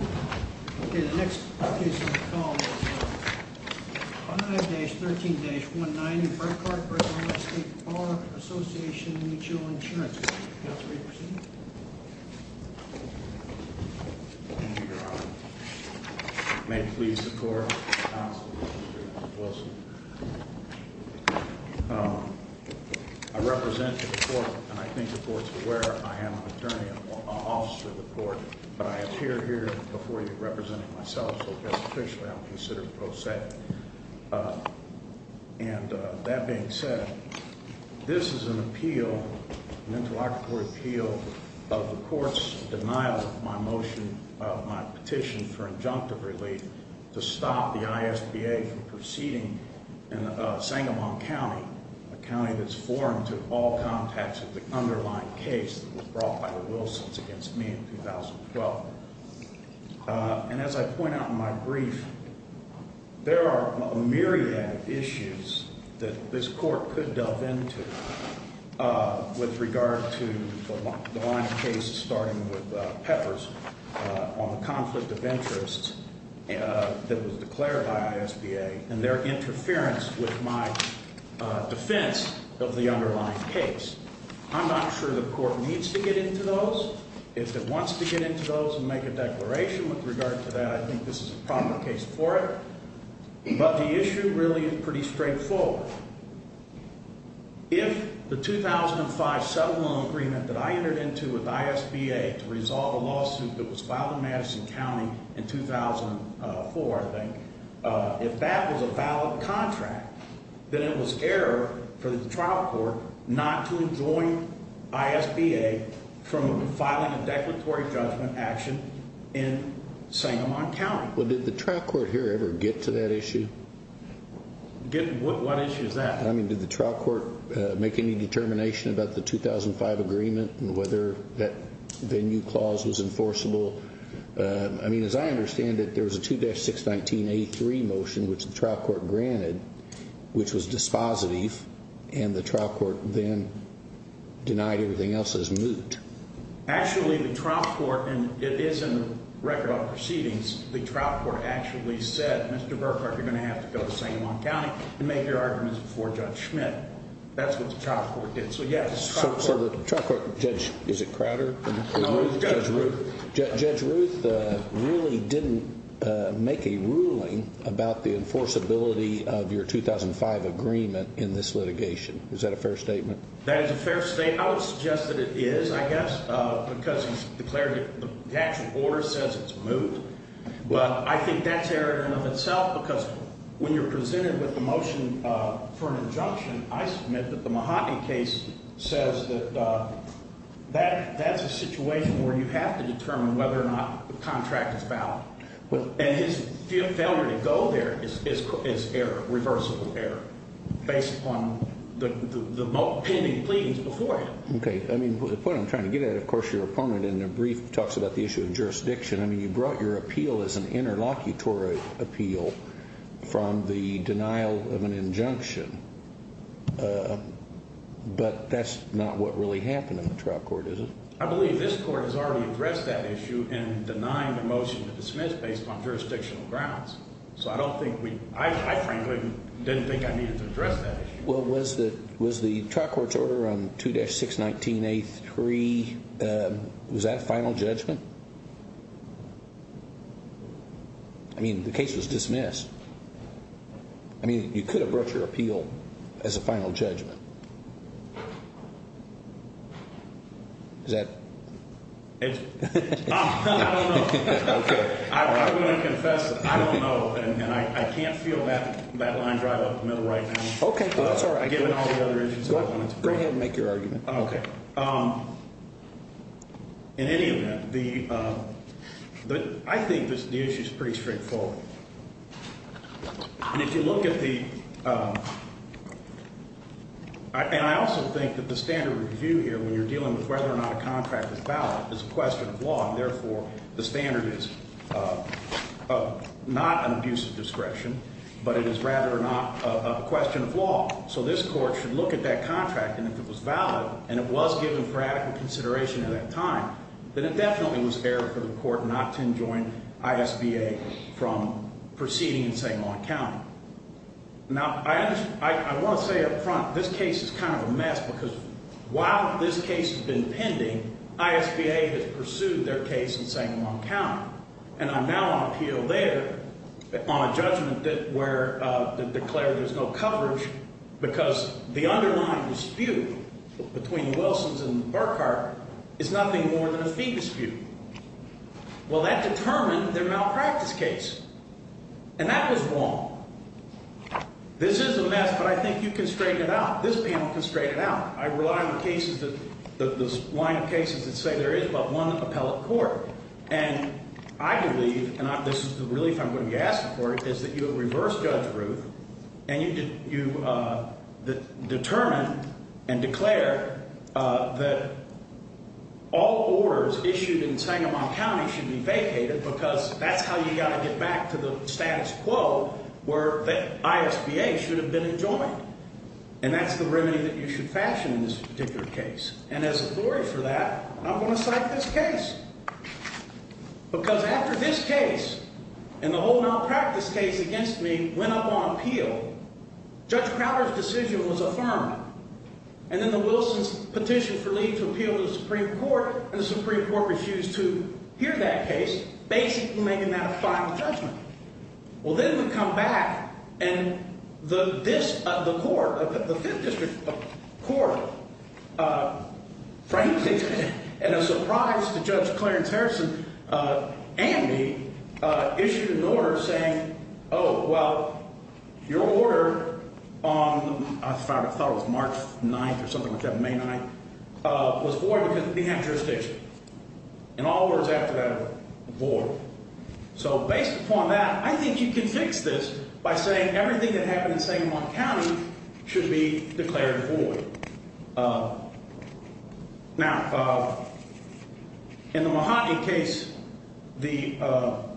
Okay, the next case is called 5-13-19 in Burkart v. Ill. State Bar Assoc. Mutual Ins. Co. Thank you, Your Honor. May it please the Court, I represent the court, and I think the court is aware I am an attorney, an officer of the court, but I appear here before you representing myself, so just officially I'm considered pro se. And that being said, this is an appeal, an interlocutory appeal, of the court's denial of my motion, of my petition for injunctive relief to stop the ISBA from proceeding in Sangamon County, a county that's foreign to all contacts of the underlying case that was brought by the Wilsons against me in 2012. And as I point out in my brief, there are a myriad of issues that this court could delve into with regard to the line of cases, starting with Peppers on the conflict of interest that was declared by ISBA and their interference with my defense of the underlying case. I'm not sure the court needs to get into those. If it wants to get into those and make a declaration with regard to that, I think this is a proper case for it. But the issue really is pretty straightforward. If the 2005 settlement agreement that I entered into with ISBA to resolve a lawsuit that was filed in Madison County in 2004, I think, if that was a valid contract, then it was error for the trial court not to enjoin ISBA from filing a declaratory judgment action in Sangamon County. Well, did the trial court here ever get to that issue? What issue is that? I mean, did the trial court make any determination about the 2005 agreement and whether that venue clause was enforceable? I mean, as I understand it, there was a 2-619A3 motion which the trial court granted, which was dispositive, and the trial court then denied everything else as moot. Actually, the trial court, and it is in the record of proceedings, the trial court actually said, Mr. Burkhart, you're going to have to go to Sangamon County and make your arguments before Judge Schmidt. That's what the trial court did. So, yes, the trial court... So the trial court, Judge, is it Crowder? No, it was Judge Ruth. Judge Ruth really didn't make a ruling about the enforceability of your 2005 agreement in this litigation. Is that a fair statement? That is a fair statement. I would suggest that it is, I guess, because the actual order says it's moot. But I think that's error in and of itself because when you're presented with a motion for an injunction, I submit that the Mahatma case says that that's a situation where you have to determine whether or not the contract is valid. And his failure to go there is error, reversible error, based upon the pending pleadings before him. Okay. I mean, the point I'm trying to get at, of course, your opponent in their brief talks about the issue of jurisdiction. I mean, you brought your appeal as an interlocutory appeal from the denial of an injunction. But that's not what really happened in the trial court, is it? I believe this court has already addressed that issue in denying the motion to dismiss based on jurisdictional grounds. So I frankly didn't think I needed to address that issue. Well, was the trial court's order on 2-619A3, was that a final judgment? I mean, the case was dismissed. I mean, you could have brought your appeal as a final judgment. Is that it? I don't know. Okay. I'm going to confess that I don't know, and I can't feel that line drive up the middle right now. Okay. That's all right. Given all the other issues. Go ahead and make your argument. Okay. In any event, I think the issue is pretty straightforward. And if you look at the – and I also think that the standard review here when you're dealing with whether or not a contract is valid is a question of law, and therefore the standard is not an abuse of discretion, but it is rather not a question of law. So this court should look at that contract, and if it was valid and it was given for adequate consideration at that time, then it definitely was error for the court not to enjoin ISBA from proceeding in St. Lawn County. Now, I want to say up front, this case is kind of a mess because while this case has been pending, ISBA has pursued their case in St. Lawn County. And I'm now on appeal there on a judgment where they declared there's no coverage because the underlying dispute between Wilsons and Burkhart is nothing more than a fee dispute. Well, that determined their malpractice case, and that was wrong. This is a mess, but I think you can straighten it out. This panel can straighten it out. I rely on the cases that – the line of cases that say there is but one appellate court. And I believe, and this is the relief I'm going to be asking for, is that you have reversed Judge Ruth and you determined and declared that all orders issued in St. Lawn County should be vacated because that's how you got to get back to the status quo where the ISBA should have been enjoined. And that's the remedy that you should fashion in this particular case. And as authority for that, I'm going to cite this case because after this case and the whole malpractice case against me went up on appeal, Judge Crowder's decision was affirmed, and then the Wilsons petitioned for leave to appeal to the Supreme Court, and the Supreme Court refused to hear that case, basically making that a final judgment. Well, then we come back, and the court, the Fifth District Court, frankly, in a surprise to Judge Clarence Harrison and me, issued an order saying, oh, well, your order on – I thought it was March 9th or something like that, May 9th – was void because it didn't have jurisdiction. And all orders after that are void. So based upon that, I think you can fix this by saying everything that happened in St. Lawn County should be declared void. Now, in the Mahoney case, the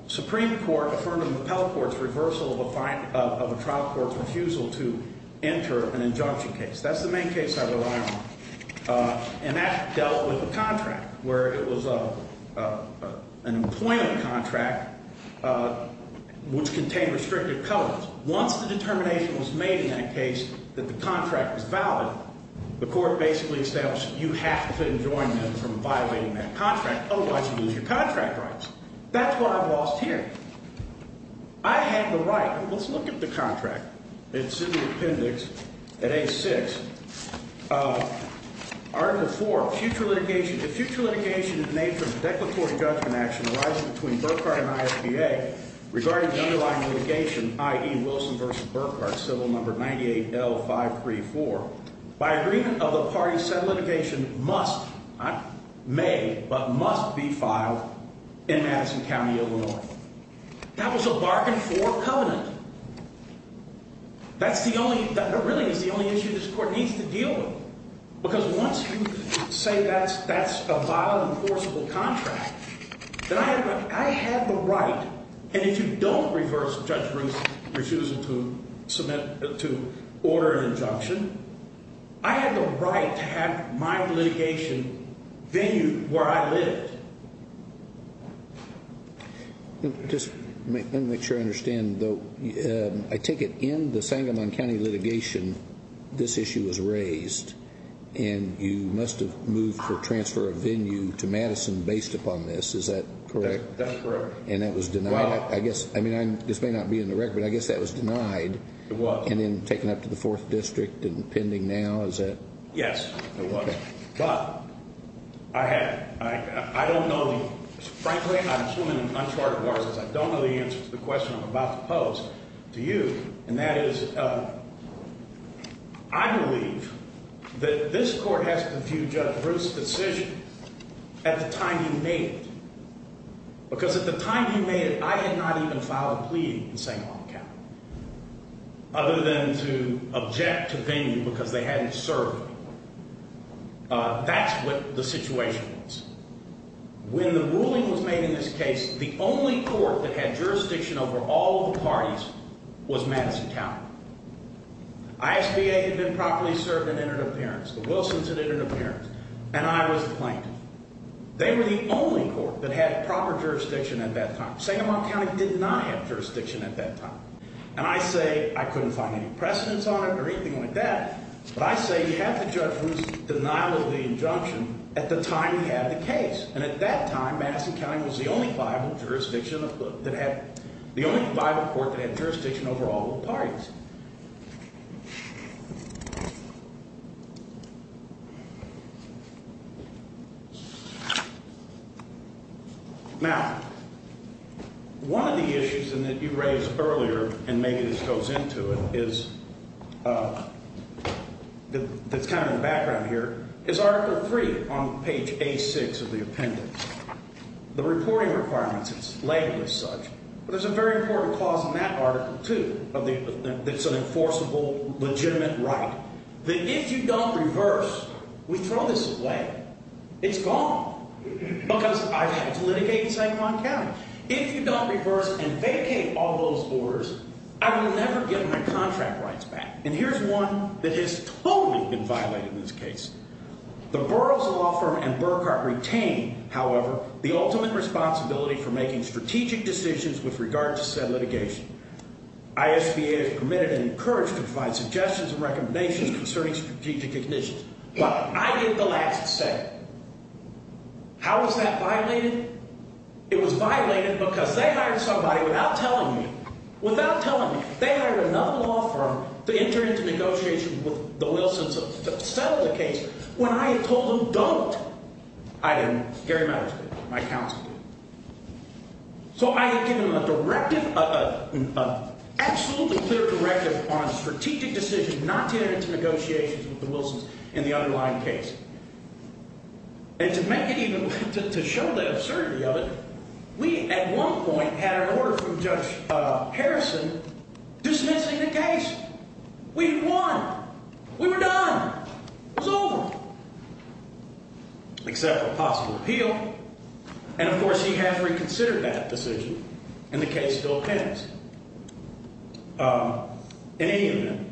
Supreme Court affirmed in the Appellate Court's reversal of a trial court's refusal to enter an injunction case. That's the main case I rely on. And that dealt with the contract, where it was an employment contract which contained restrictive colors. Once the determination was made in that case that the contract was valid, the court basically established you have to fit and join them from violating that contract, otherwise you lose your contract rights. That's what I've lost here. I have the right – let's look at the contract. It's in the appendix at A6. Article 4, future litigation. The future litigation is made for the declaratory judgment action arising between Burkhart and ISPA regarding the underlying litigation, i.e. Wilson v. Burkhart, civil number 98L534, by agreement of the party said litigation must – may but must be filed in Madison County, Illinois. That was a bargain for covenant. That's the only – that really is the only issue this court needs to deal with. Because once you say that's a vile, enforceable contract, then I have the right, and if you don't reverse Judge Bruce's refusal to submit – to order an injunction, I have the right to have my litigation venue where I live. Just let me make sure I understand, though. I take it in the Sangamon County litigation this issue was raised, and you must have moved for transfer of venue to Madison based upon this. Is that correct? That's correct. And that was denied? Well – I guess – I mean, this may not be in the record, but I guess that was denied. It was. And then taken up to the 4th District and pending now, is that – Yes, it was. But I had – I don't know the – frankly, I'm swimming in uncharted waters, because I don't know the answer to the question I'm about to pose to you, and that is I believe that this court has to view Judge Bruce's decision at the time he made it. Because at the time he made it, I had not even filed a plea in Sangamon County, other than to object to venue because they hadn't served me. That's what the situation was. When the ruling was made in this case, the only court that had jurisdiction over all the parties was Madison County. ISBA had been properly served and entered appearance. The Wilsons had entered appearance, and I was the plaintiff. They were the only court that had proper jurisdiction at that time. Sangamon County did not have jurisdiction at that time. And I say I couldn't find any precedence on it or anything like that, but I say you have to judge Bruce's denial of the injunction at the time he had the case. And at that time, Madison County was the only viable jurisdiction that had – the only viable court that had jurisdiction over all the parties. Now, one of the issues that you raised earlier, and maybe this goes into it, is – that's kind of in the background here – is Article III on page A6 of the appendix. The reporting requirements, it's labeled as such, but there's a very important clause in that Article II of the appendix. It's an enforceable, legitimate right that if you don't reverse, we throw this away. It's gone because I've had to litigate in Sangamon County. If you don't reverse and vacate all those orders, I will never get my contract rights back. And here's one that has totally been violated in this case. The Burroughs Law Firm and Burkhart retain, however, the ultimate responsibility for making strategic decisions with regard to said litigation. ISBA is permitted and encouraged to provide suggestions and recommendations concerning strategic decisions. But I did the last step. How was that violated? It was violated because they hired somebody without telling me – without telling me. They hired another law firm to enter into negotiations with the Wilsons to settle the case. When I had told them don't, I didn't. Gary Meadows did. My counsel did. So I had given them a directive, an absolutely clear directive on a strategic decision not to enter into negotiations with the Wilsons in the underlying case. And to make it even – to show the absurdity of it, we at one point had an order from Judge Harrison dismissing the case. We had won. We were done. It was over. Except for a possible appeal. And, of course, he has reconsidered that decision, and the case still pens. In any event,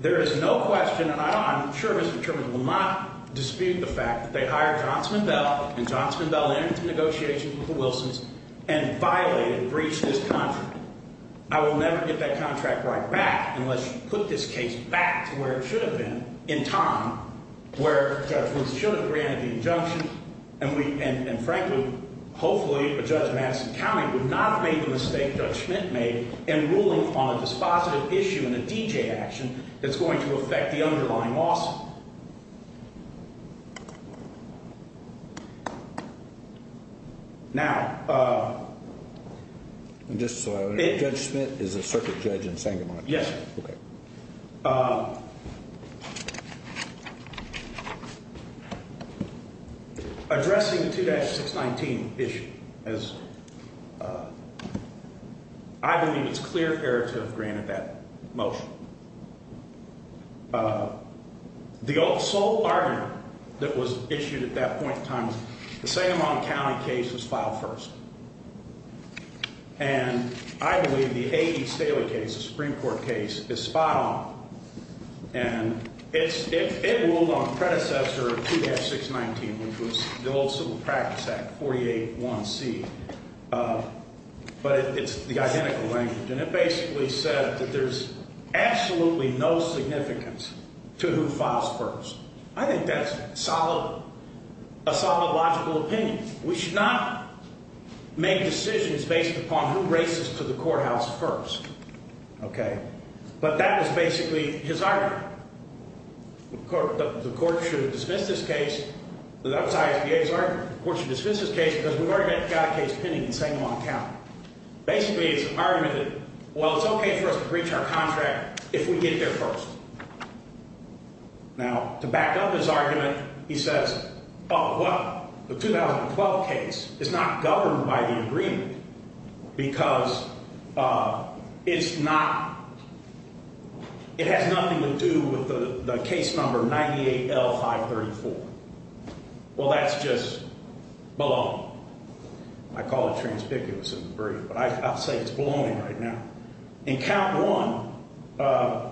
there is no question, and I'm sure Mr. Truman will not dispute the fact, that they hired Johnson and Bell, and Johnson and Bell entered into negotiations with the Wilsons and violated and breached this contract. I will never get that contract right back unless you put this case back to where it should have been in time, where Judge Wilson should have granted the injunction, and, frankly, hopefully Judge Madison County would not have made the mistake Judge Schmidt made in ruling on a dispositive issue in a D.J. action that's going to affect the underlying lawsuit. Now – Just so I understand, Judge Schmidt is a circuit judge in Sangamon? Yes. Okay. Addressing the 2-619 issue, as – I believe it's clear fair to have granted that motion. The sole argument that was issued at that point in time was the Sangamon County case was filed first. And I believe the A.E. Staley case, the Supreme Court case, is spot on. And it's – it ruled on predecessor 2-619, which was the old Civil Practice Act 48-1C. But it's the identical language, and it basically said that there's absolutely no significance to who files first. I think that's a solid – a solid logical opinion. We should not make decisions based upon who races to the courthouse first. Okay? But that is basically his argument. The court should dismiss this case. That was ISBA's argument. The court should dismiss this case because we've already got a case pending in Sangamon County. Basically, it's an argument that, well, it's okay for us to breach our contract if we get there first. Now, to back up his argument, he says, oh, well, the 2012 case is not governed by the agreement because it's not – it has nothing to do with the case number 98L534. Well, that's just baloney. I call it transpicuous in the brief, but I'll say it's baloney right now. In count one,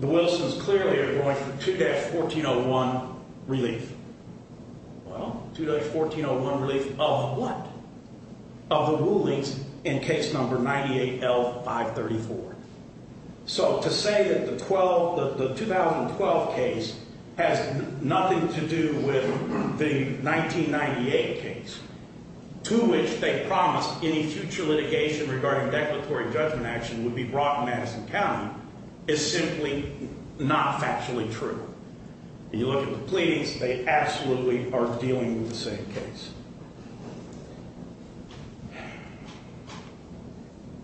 the Wilsons clearly are going for 2-1401 relief. Well, 2-1401 relief of what? Of the rulings in case number 98L534. So to say that the 2012 case has nothing to do with the 1998 case, to which they promised any future litigation regarding declaratory judgment action would be brought in Madison County, is simply not factually true. When you look at the pleadings, they absolutely are dealing with the same case.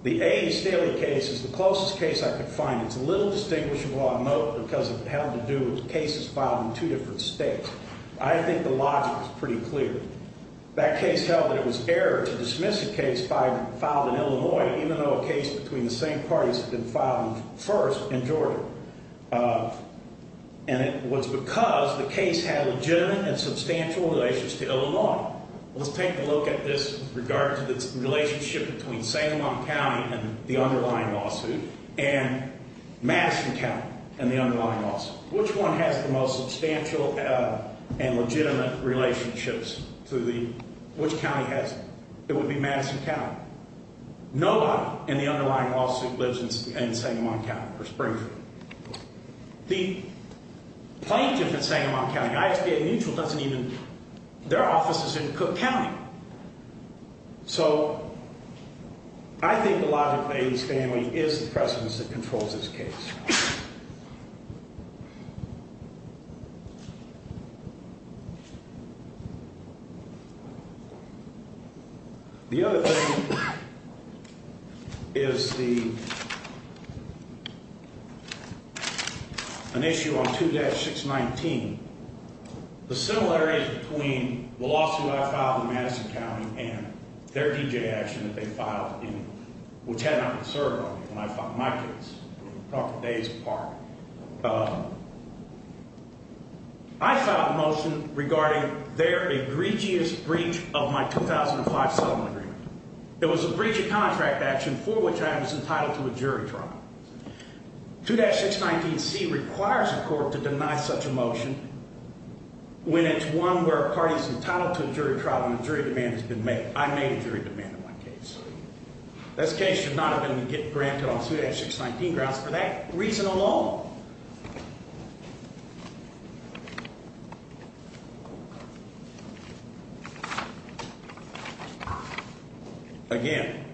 The A. E. Staley case is the closest case I could find. It's a little distinguishable on note because it had to do with cases filed in two different states. I think the logic is pretty clear. That case held that it was error to dismiss a case filed in Illinois, even though a case between the same parties had been filed first in Georgia. And it was because the case had legitimate and substantial relations to Illinois. Let's take a look at this in regard to the relationship between Sangamon County and the underlying lawsuit and Madison County and the underlying lawsuit. Which one has the most substantial and legitimate relationships to the – which county has it? It would be Madison County. No one in the underlying lawsuit lives in Sangamon County or Springfield. The plaintiff in Sangamon County, IHPA Mutual, doesn't even – their office is in Cook County. So I think the logic of A. E. Staley is the precedence that controls this case. The other thing is the – an issue on 2-619. The similarities between the lawsuit I filed in Madison County and their D.J. action that they filed in – which had not been served on me when I filed my case, probably days apart. I filed a motion regarding their egregious breach of my 2005 settlement agreement. It was a breach of contract action for which I was entitled to a jury trial. 2-619C requires a court to deny such a motion when it's one where a party is entitled to a jury trial and a jury demand has been made. I made a jury demand in my case. This case should not have been granted on 2-619 grounds for that reason alone. Again,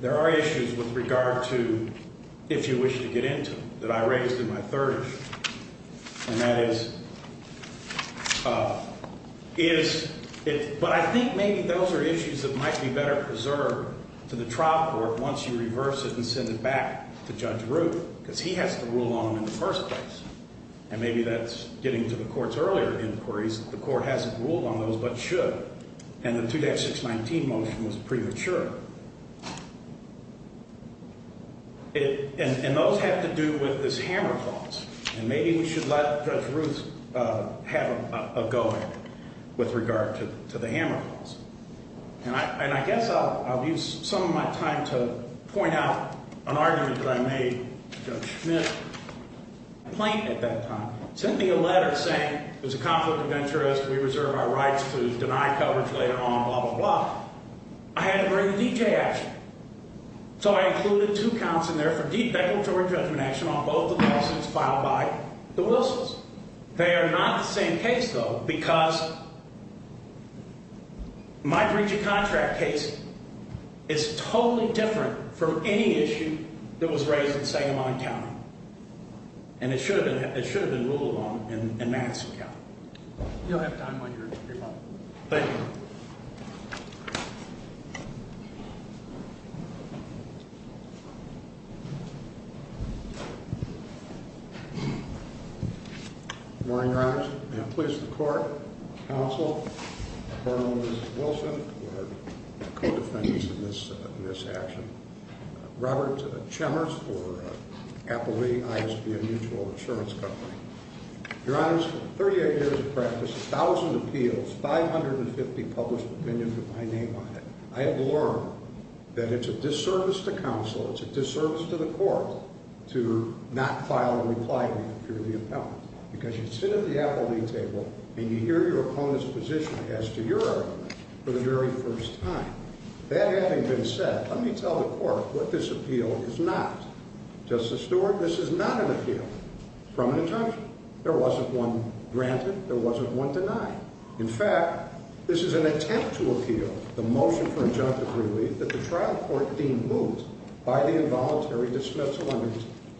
there are issues with regard to if you wish to get into them that I raised in my third issue. And that is – is – but I think maybe those are issues that might be better preserved to the trial court once you reverse it and send it back to Judge Ruth because he has to rule on them in the first place. And maybe that's getting to the Court's earlier inquiries. The Court hasn't ruled on those but should. And the 2-619 motion was premature. And those have to do with this hammer clause. And maybe we should let Judge Ruth have a go at it with regard to the hammer clause. And I guess I'll use some of my time to point out an argument that I made to Judge Schmidt. The plaintiff at that time sent me a letter saying it was a conflict of interest, we reserve our rights to deny coverage later on, blah, blah, blah. I had to bring the D.J. action. So I included two counts in there for defecatory judgment action on both the lawsuits filed by the Wilsons. They are not the same case though because my breach of contract case is totally different from any issue that was raised in Sagamon County. And it should have been ruled on in Madison County. You'll have time when you're ready. Thank you. Good morning, Your Honors. May it please the Court, Counsel, Colonel Mrs. Wilson, who are co-defendants in this action, Robert Chemers for Applebee, ISB, a mutual insurance company. Your Honors, 38 years of practice, 1,000 appeals, 550 published opinions with my name on it. I have learned that it's a disservice to counsel, it's a disservice to the Court to not file a reply to you through the appellant. Because you sit at the Applebee table and you hear your opponent's position as to your argument for the very first time. That having been said, let me tell the Court what this appeal is not. Justice Stewart, this is not an appeal from an attorney. There wasn't one granted, there wasn't one denied. In fact, this is an attempt to appeal the motion for injunctive relief that the trial court deemed moot by the involuntary dismissal under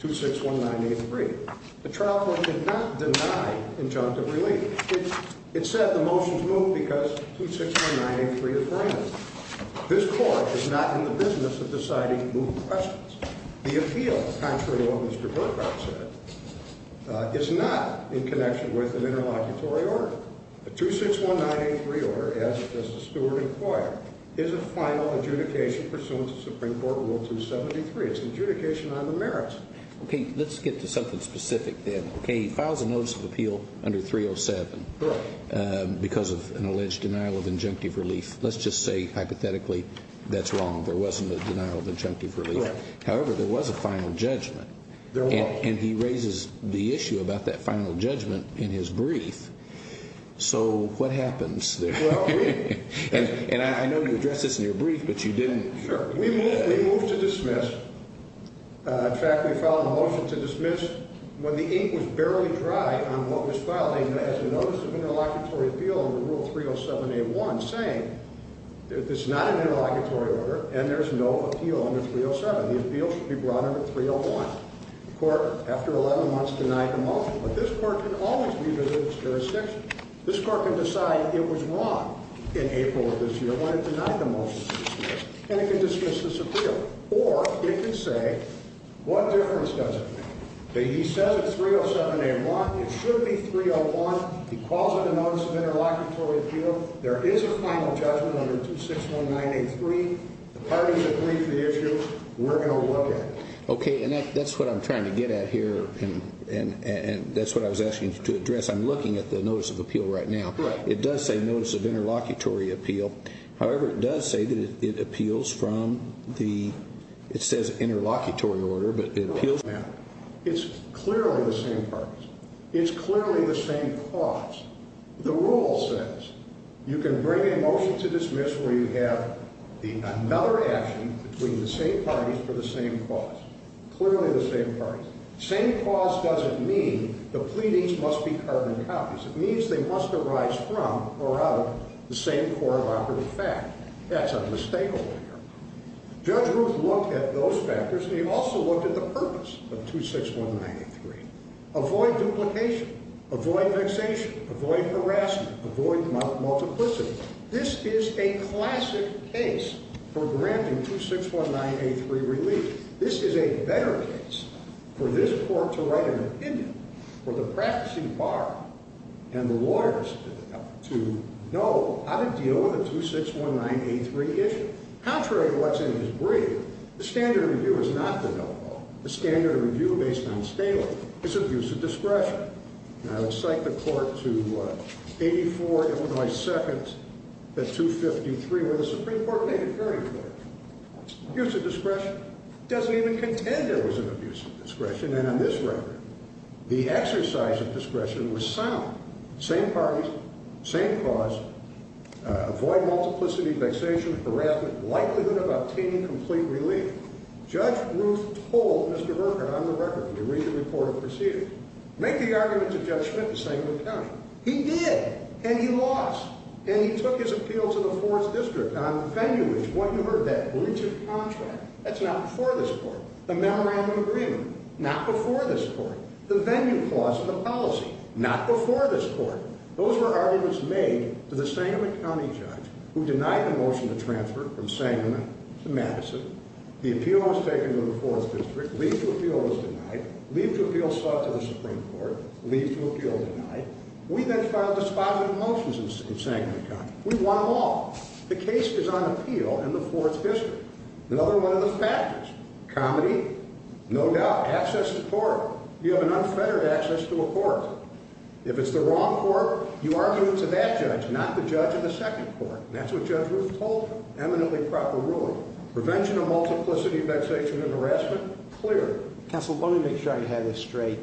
261983. The trial court did not deny injunctive relief. It said the motion's moot because 261983 is granted. This Court is not in the business of deciding moot questions. The appeal, contrary to what Mr. Burkhart said, is not in connection with an interlocutory order. The 261983 order, as Justice Stewart inquired, is a final adjudication pursuant to Supreme Court Rule 273. It's an adjudication on the merits. Okay, let's get to something specific then. Okay, he files a notice of appeal under 307 because of an alleged denial of injunctive relief. Let's just say, hypothetically, that's wrong. There wasn't a denial of injunctive relief. Correct. However, there was a final judgment. There was. And he raises the issue about that final judgment in his brief. So, what happens there? Well, we... And I know you addressed this in your brief, but you didn't... Sure. We moved to dismiss. In fact, we filed a motion to dismiss when the ink was barely dry on what was filed. We filed a notice of interlocutory appeal under Rule 307A1 saying that this is not an interlocutory order and there's no appeal under 307. The appeal should be brought under 301. The court, after 11 months, denied the motion. But this court can always revisit its jurisdiction. This court can decide it was wrong in April of this year when it denied the motion to dismiss, and it can dismiss this appeal. Or it can say, what difference does it make? But he says it's 307A1. It should be 301. He calls it a notice of interlocutory appeal. There is a final judgment under 2619A3. The parties agreed to the issue. We're going to look at it. Okay, and that's what I'm trying to get at here, and that's what I was asking you to address. I'm looking at the notice of appeal right now. Correct. It does say notice of interlocutory appeal. However, it does say that it appeals from the, it says interlocutory order, but it appeals. It's clearly the same parties. It's clearly the same cause. The rule says you can bring a motion to dismiss where you have another action between the same parties for the same cause. Clearly the same parties. Same cause doesn't mean the pleadings must be carbon copies. It means they must arise from or out of the same core property fact. That's a mistake over here. Judge Ruth looked at those factors, and he also looked at the purpose of 2619A3. Avoid duplication. Avoid vexation. Avoid harassment. Avoid multiplicity. This is a classic case for granting 2619A3 relief. This is a better case for this court to write an opinion, for the practicing bar and the lawyers to know how to deal with a 2619A3 issue. Contrary to what's in his brief, the standard of review is not the no vote. The standard of review based on Staley is abuse of discretion. I will cite the court to 84 Illinois seconds at 253 where the Supreme Court made a very clear use of discretion. It doesn't even contend there was an abuse of discretion. And on this record, the exercise of discretion was sound. Same parties. Same cause. Avoid multiplicity, vexation, harassment, likelihood of obtaining complete relief. Judge Ruth told Mr. Berger, on the record, when you read the report of proceedings, make the argument to Judge Schmidt, the Sandman County judge. He did. And he lost. And he took his appeal to the 4th District on venue, which is what you heard, that breach of contract. That's not before this court. The memorandum of agreement. Not before this court. The venue clause of the policy. Not before this court. Those were arguments made to the Sandman County judge who denied the motion to transfer from Sandman to Madison. The appeal was taken to the 4th District. Leave to appeal was denied. Leave to appeal sought to the Supreme Court. Leave to appeal denied. We then filed dispositive motions in Sandman County. We won them all. The case is on appeal in the 4th District. Another one of the factors. Comedy? No doubt. Access to court. You have an unfettered access to a court. If it's the wrong court, you argue it to that judge, not the judge of the second court. And that's what Judge Ruth told him. Eminently proper ruling. Prevention of multiplicity, vexation, and harassment? Clear. Counsel, let me make sure I have this straight.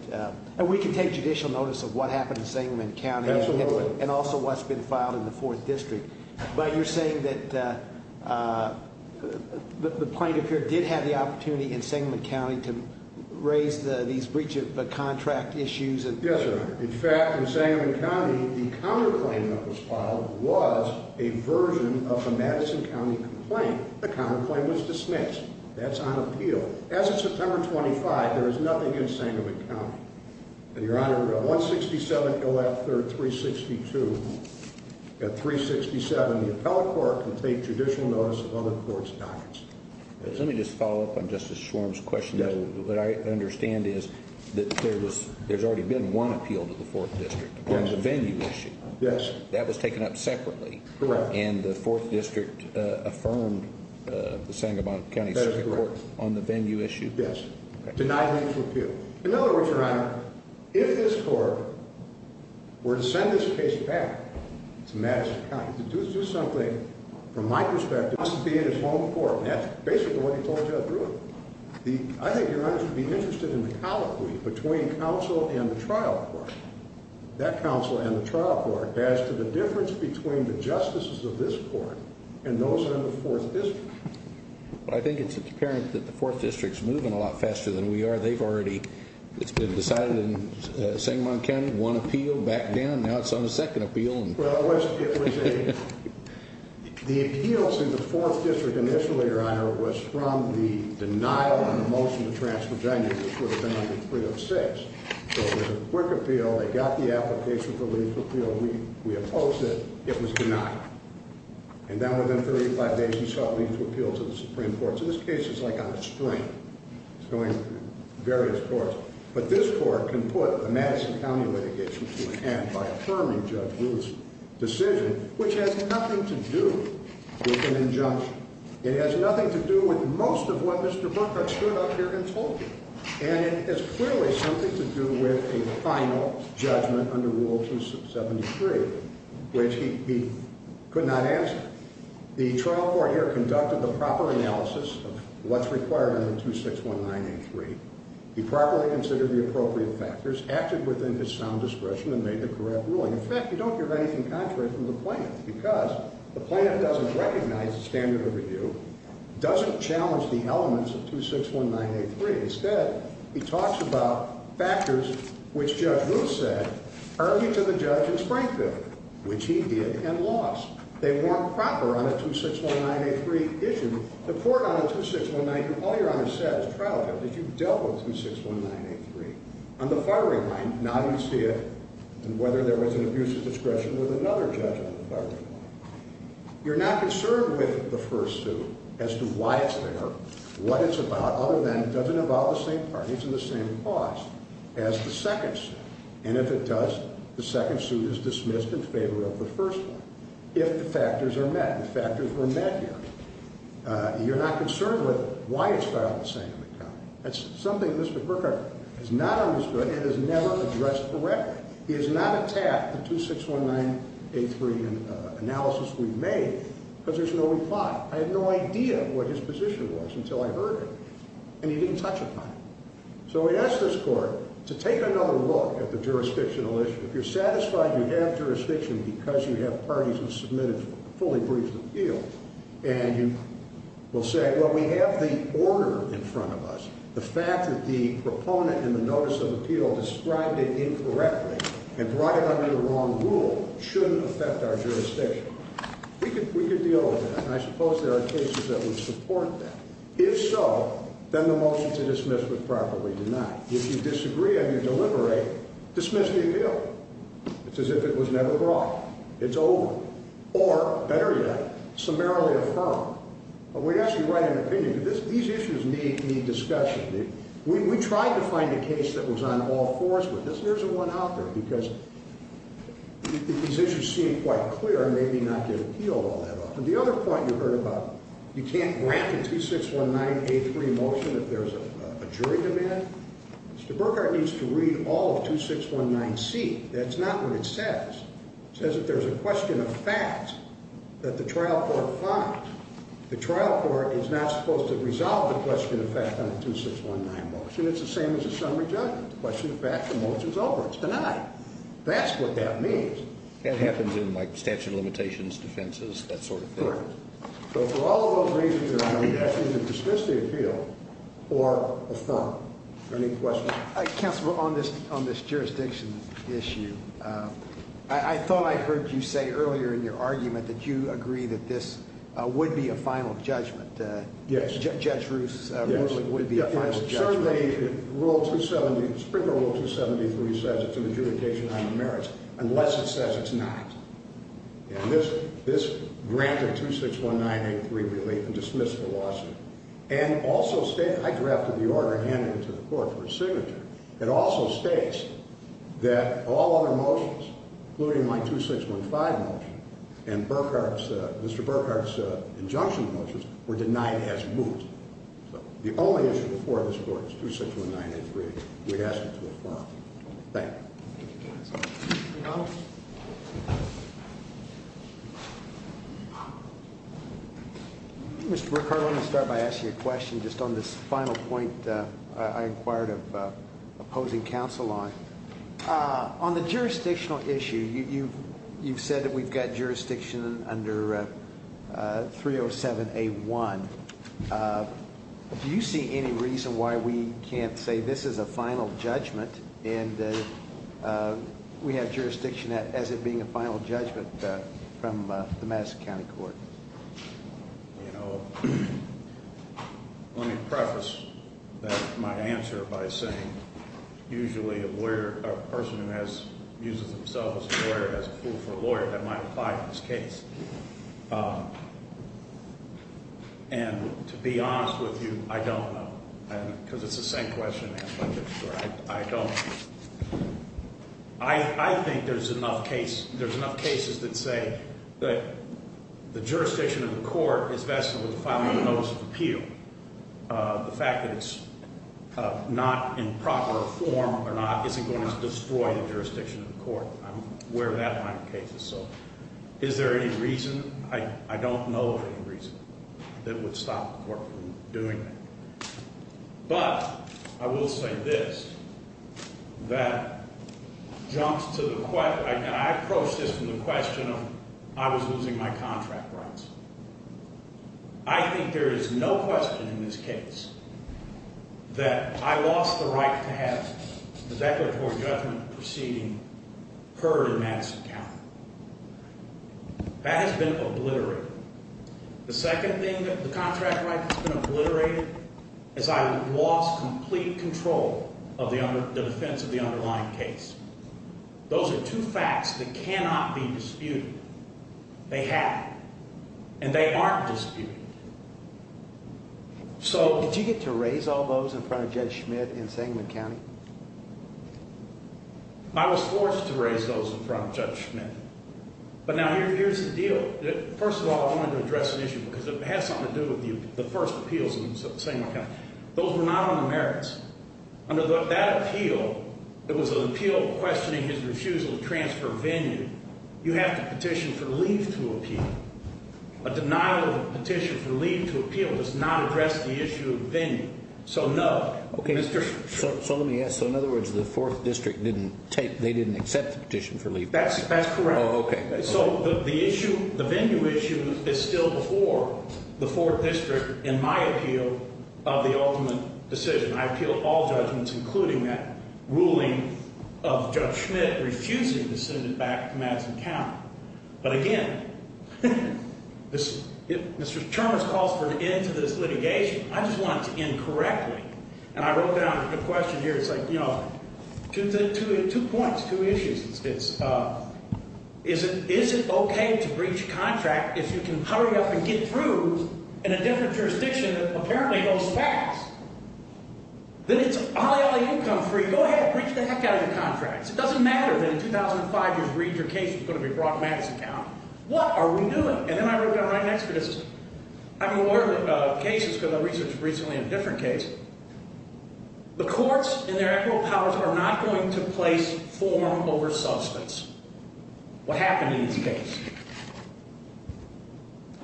And we can take judicial notice of what happened in Sandman County. Absolutely. And also what's been filed in the 4th District. But you're saying that the plaintiff here did have the opportunity in Sandman County to raise these breach of contract issues? Yes, Your Honor. In fact, in Sandman County, the counterclaim that was filed was a version of a Madison County complaint. The counterclaim was dismissed. That's on appeal. As of September 25, there is nothing in Sandman County. And, Your Honor, 167 elect 362. At 367, the appellate court can take judicial notice of other courts' documents. Let me just follow up on Justice Schwarm's question. What I understand is that there's already been one appeal to the 4th District on the venue issue. Yes. That was taken up separately. Correct. And the 4th District affirmed the Sandman County Supreme Court on the venue issue? Yes. Denied an actual appeal. In other words, Your Honor, if this court were to send this case back to Madison County, to do something, from my perspective, it must be in its home court. And that's basically what he told Judge Ruth. I think Your Honor should be interested in the colloquy between counsel and the trial court. That counsel and the trial court as to the difference between the justices of this court and those on the 4th District. I think it's apparent that the 4th District is moving a lot faster than we are. They've already decided in Sandman County, one appeal, back down, now it's on a second appeal. Well, it was a, the appeals in the 4th District initially, Your Honor, was from the denial on the motion to transfer venue, which would have been under 306. So it was a quick appeal, they got the application for a lethal appeal, we opposed it, it was denied. And then within 35 days you saw a lethal appeal to the Supreme Court. So this case is like on a string. It's going to various courts. But this court can put a Madison County litigation to an end by affirming Judge Ruth's decision, which has nothing to do with an injunction. It has nothing to do with most of what Mr. Bunker stood up here and told you. And it has clearly something to do with a final judgment under Rule 273, which he could not answer. The trial court here conducted the proper analysis of what's required under 2619A3. He properly considered the appropriate factors, acted within his sound discretion, and made the correct ruling. In fact, you don't hear anything contrary from the plaintiff, because the plaintiff doesn't recognize the standard of review, doesn't challenge the elements of 2619A3. Instead, he talks about factors which Judge Ruth said earlier to the judge in Springfield, which he did and lost. They weren't proper on a 2619A3 issue. The court on a 2619A3, all Your Honor said as trial judges, you dealt with 2619A3 on the firing line, not on whether there was an abuse of discretion with another judge on the firing line. You're not concerned with the first suit as to why it's there, what it's about, other than it doesn't involve the same parties and the same cause as the second suit. And if it does, the second suit is dismissed in favor of the first one, if the factors are met. The factors were met, Your Honor. You're not concerned with why it's filed the same in the county. That's something Mr. Kirkpatrick has not understood and has never addressed correctly. He has not attacked the 2619A3 analysis we've made because there's no reply. I had no idea what his position was until I heard it, and he didn't touch it on it. So we asked this court to take another look at the jurisdictional issue. If you're satisfied you have jurisdiction because you have parties who submitted a fully briefed appeal, and you will say, well, we have the order in front of us. The fact that the proponent in the notice of appeal described it incorrectly and brought it under the wrong rule shouldn't affect our jurisdiction. We could deal with that, and I suppose there are cases that would support that. If so, then the motion to dismiss would probably deny. If you disagree and you deliberate, dismiss the appeal. It's as if it was never brought. It's over. Or, better yet, summarily affirm. But we ask you to write an opinion. These issues need discussion. We tried to find a case that was on all fours, but there isn't one out there because these issues seem quite clear and maybe not get appealed all that often. The other point you heard about you can't grant a 2619A3 motion if there's a jury demand. Mr. Burkhart needs to read all of 2619C. That's not what it says. It says that there's a question of facts that the trial court finds. The trial court is not supposed to resolve the question of facts on a 2619 motion. It's the same as a summary judgment. The question of facts, the motion's over. It's denied. That's what that means. That happens in statute of limitations, defenses, that sort of thing. Correct. So for all of those reasons, you're either asking to dismiss the appeal or affirm. Any questions? Counsel, on this jurisdiction issue, I thought I heard you say earlier in your argument that you agree that this would be a final judgment. Yes. Judge Ruth's ruling would be a final judgment. Springer Rule 273 says it's an adjudication on the merits unless it says it's not. This granted 2619A3 relief and dismissed the lawsuit. I drafted the order and handed it to the court for a signature. It also states that all other motions, including my 2615 motion and Mr. Burkhart's injunction motions, were denied as moot. The only issue before this court is 2619A3. We'd ask it to affirm. Mr. Burkhart, let me start by asking you a question just on this final point I inquired of opposing counsel on. On the jurisdictional issue, you've said that we've got jurisdiction under 307A1. Do you see any reason why we can't say this is a final judgment and we have jurisdiction as it being a final judgment from the Madison County Court? You know, let me preface my answer by saying, usually a person who uses themselves as a lawyer is a fool for a lawyer. That might apply in this case. And to be honest with you, I don't know. Because it's the same question I've been asked before. I don't. I think there's enough cases that say that the jurisdiction of the court is vested with the final notice of appeal. The fact that it's not in proper form or not isn't going to destroy the jurisdiction of the court. I'm aware of that line of cases. So is there any reason? I don't know of any reason that would stop the court from doing that. But I will say this, that jumps to the question, and I approach this from the question of I was losing my contract rights. I think there is no question in this case that I lost the right to have the declaratory judgment proceeding heard in Madison County. That has been obliterated. The second thing that the contract right has been obliterated is I lost complete control of the defense of the underlying case. Those are two facts that cannot be disputed. They have. And they aren't disputed. Did you get to raise all those in front of Judge Schmidt in Sangamon County? I was forced to raise those in front of Judge Schmidt. But now here's the deal. First of all, I wanted to address an issue because it has something to do with the first appeals in Sangamon County. Those were not on the merits. Under that appeal, it was an appeal questioning his refusal to transfer venue. You have to petition for leave to appeal. A denial of a petition for leave to appeal does not address the issue of venue. So no. Okay. So let me ask. So in other words, the 4th District didn't take, they didn't accept the petition for leave. That's correct. Oh, okay. So the issue, the venue issue is still before the 4th District in my appeal of the ultimate decision. I appeal all judgments including that ruling of Judge Schmidt refusing to send it back to Madison County. But again, Mr. Chalmers calls for an end to this litigation. I just want it to end correctly. And I wrote down a question here. It's like, you know, two points, two issues. It's, is it okay to breach a contract if you can hurry up and get through in a different jurisdiction that apparently goes fast? Then it's olly olly, you come free. Go ahead and breach the heck out of your contracts. It doesn't matter that in 2005 you just breached your case. You're going to be brought to Madison County. What are we doing? And then I wrote down right next to this. I'm a lawyer of cases because I researched recently a different case. The courts in their equitable powers are not going to place form over substance. What happened in this case?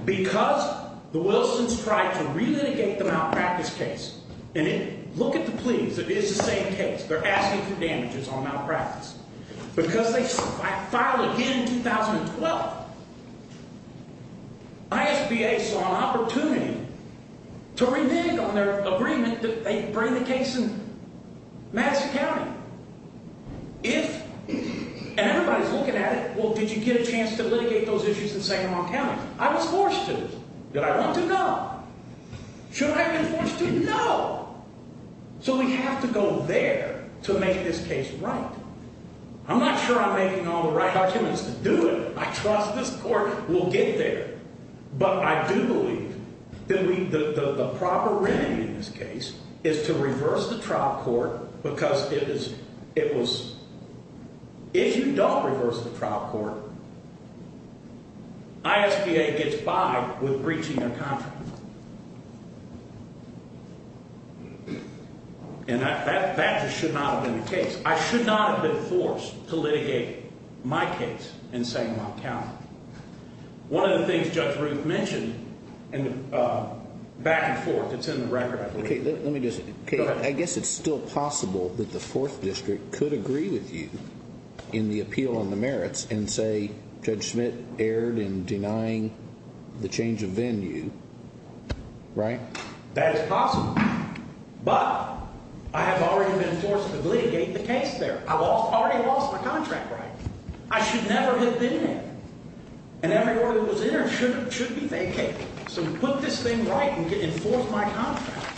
Because the Wilsons tried to relitigate the malpractice case, and look at the pleas. It is the same case. They're asking for damages on malpractice. Because they filed again in 2012, ISBA saw an opportunity to renege on their agreement that they bring the case in Madison County. If, and everybody's looking at it, well, did you get a chance to litigate those issues in Sacramento County? I was forced to. Did I want to? No. Should I have been forced to? No. So we have to go there to make this case right. I'm not sure I'm making all the right arguments to do it. I trust this court will get there. But I do believe that the proper remedy in this case is to reverse the trial court because it is, it was, if you don't reverse the trial court, ISBA gets by with breaching their contract. And that just should not have been the case. I should not have been forced to litigate my case in Sacramento County. One of the things Judge Ruth mentioned, back and forth, it's in the record, I believe. Let me just, I guess it's still possible that the Fourth District could agree with you in the appeal on the merits and say Judge Schmidt erred in denying the change of venue, right? That is possible. But I have already been forced to litigate the case there. I already lost my contract right. I should never have been there. And everyone who was there should be vacated. So put this thing right and enforce my contract. Thank you.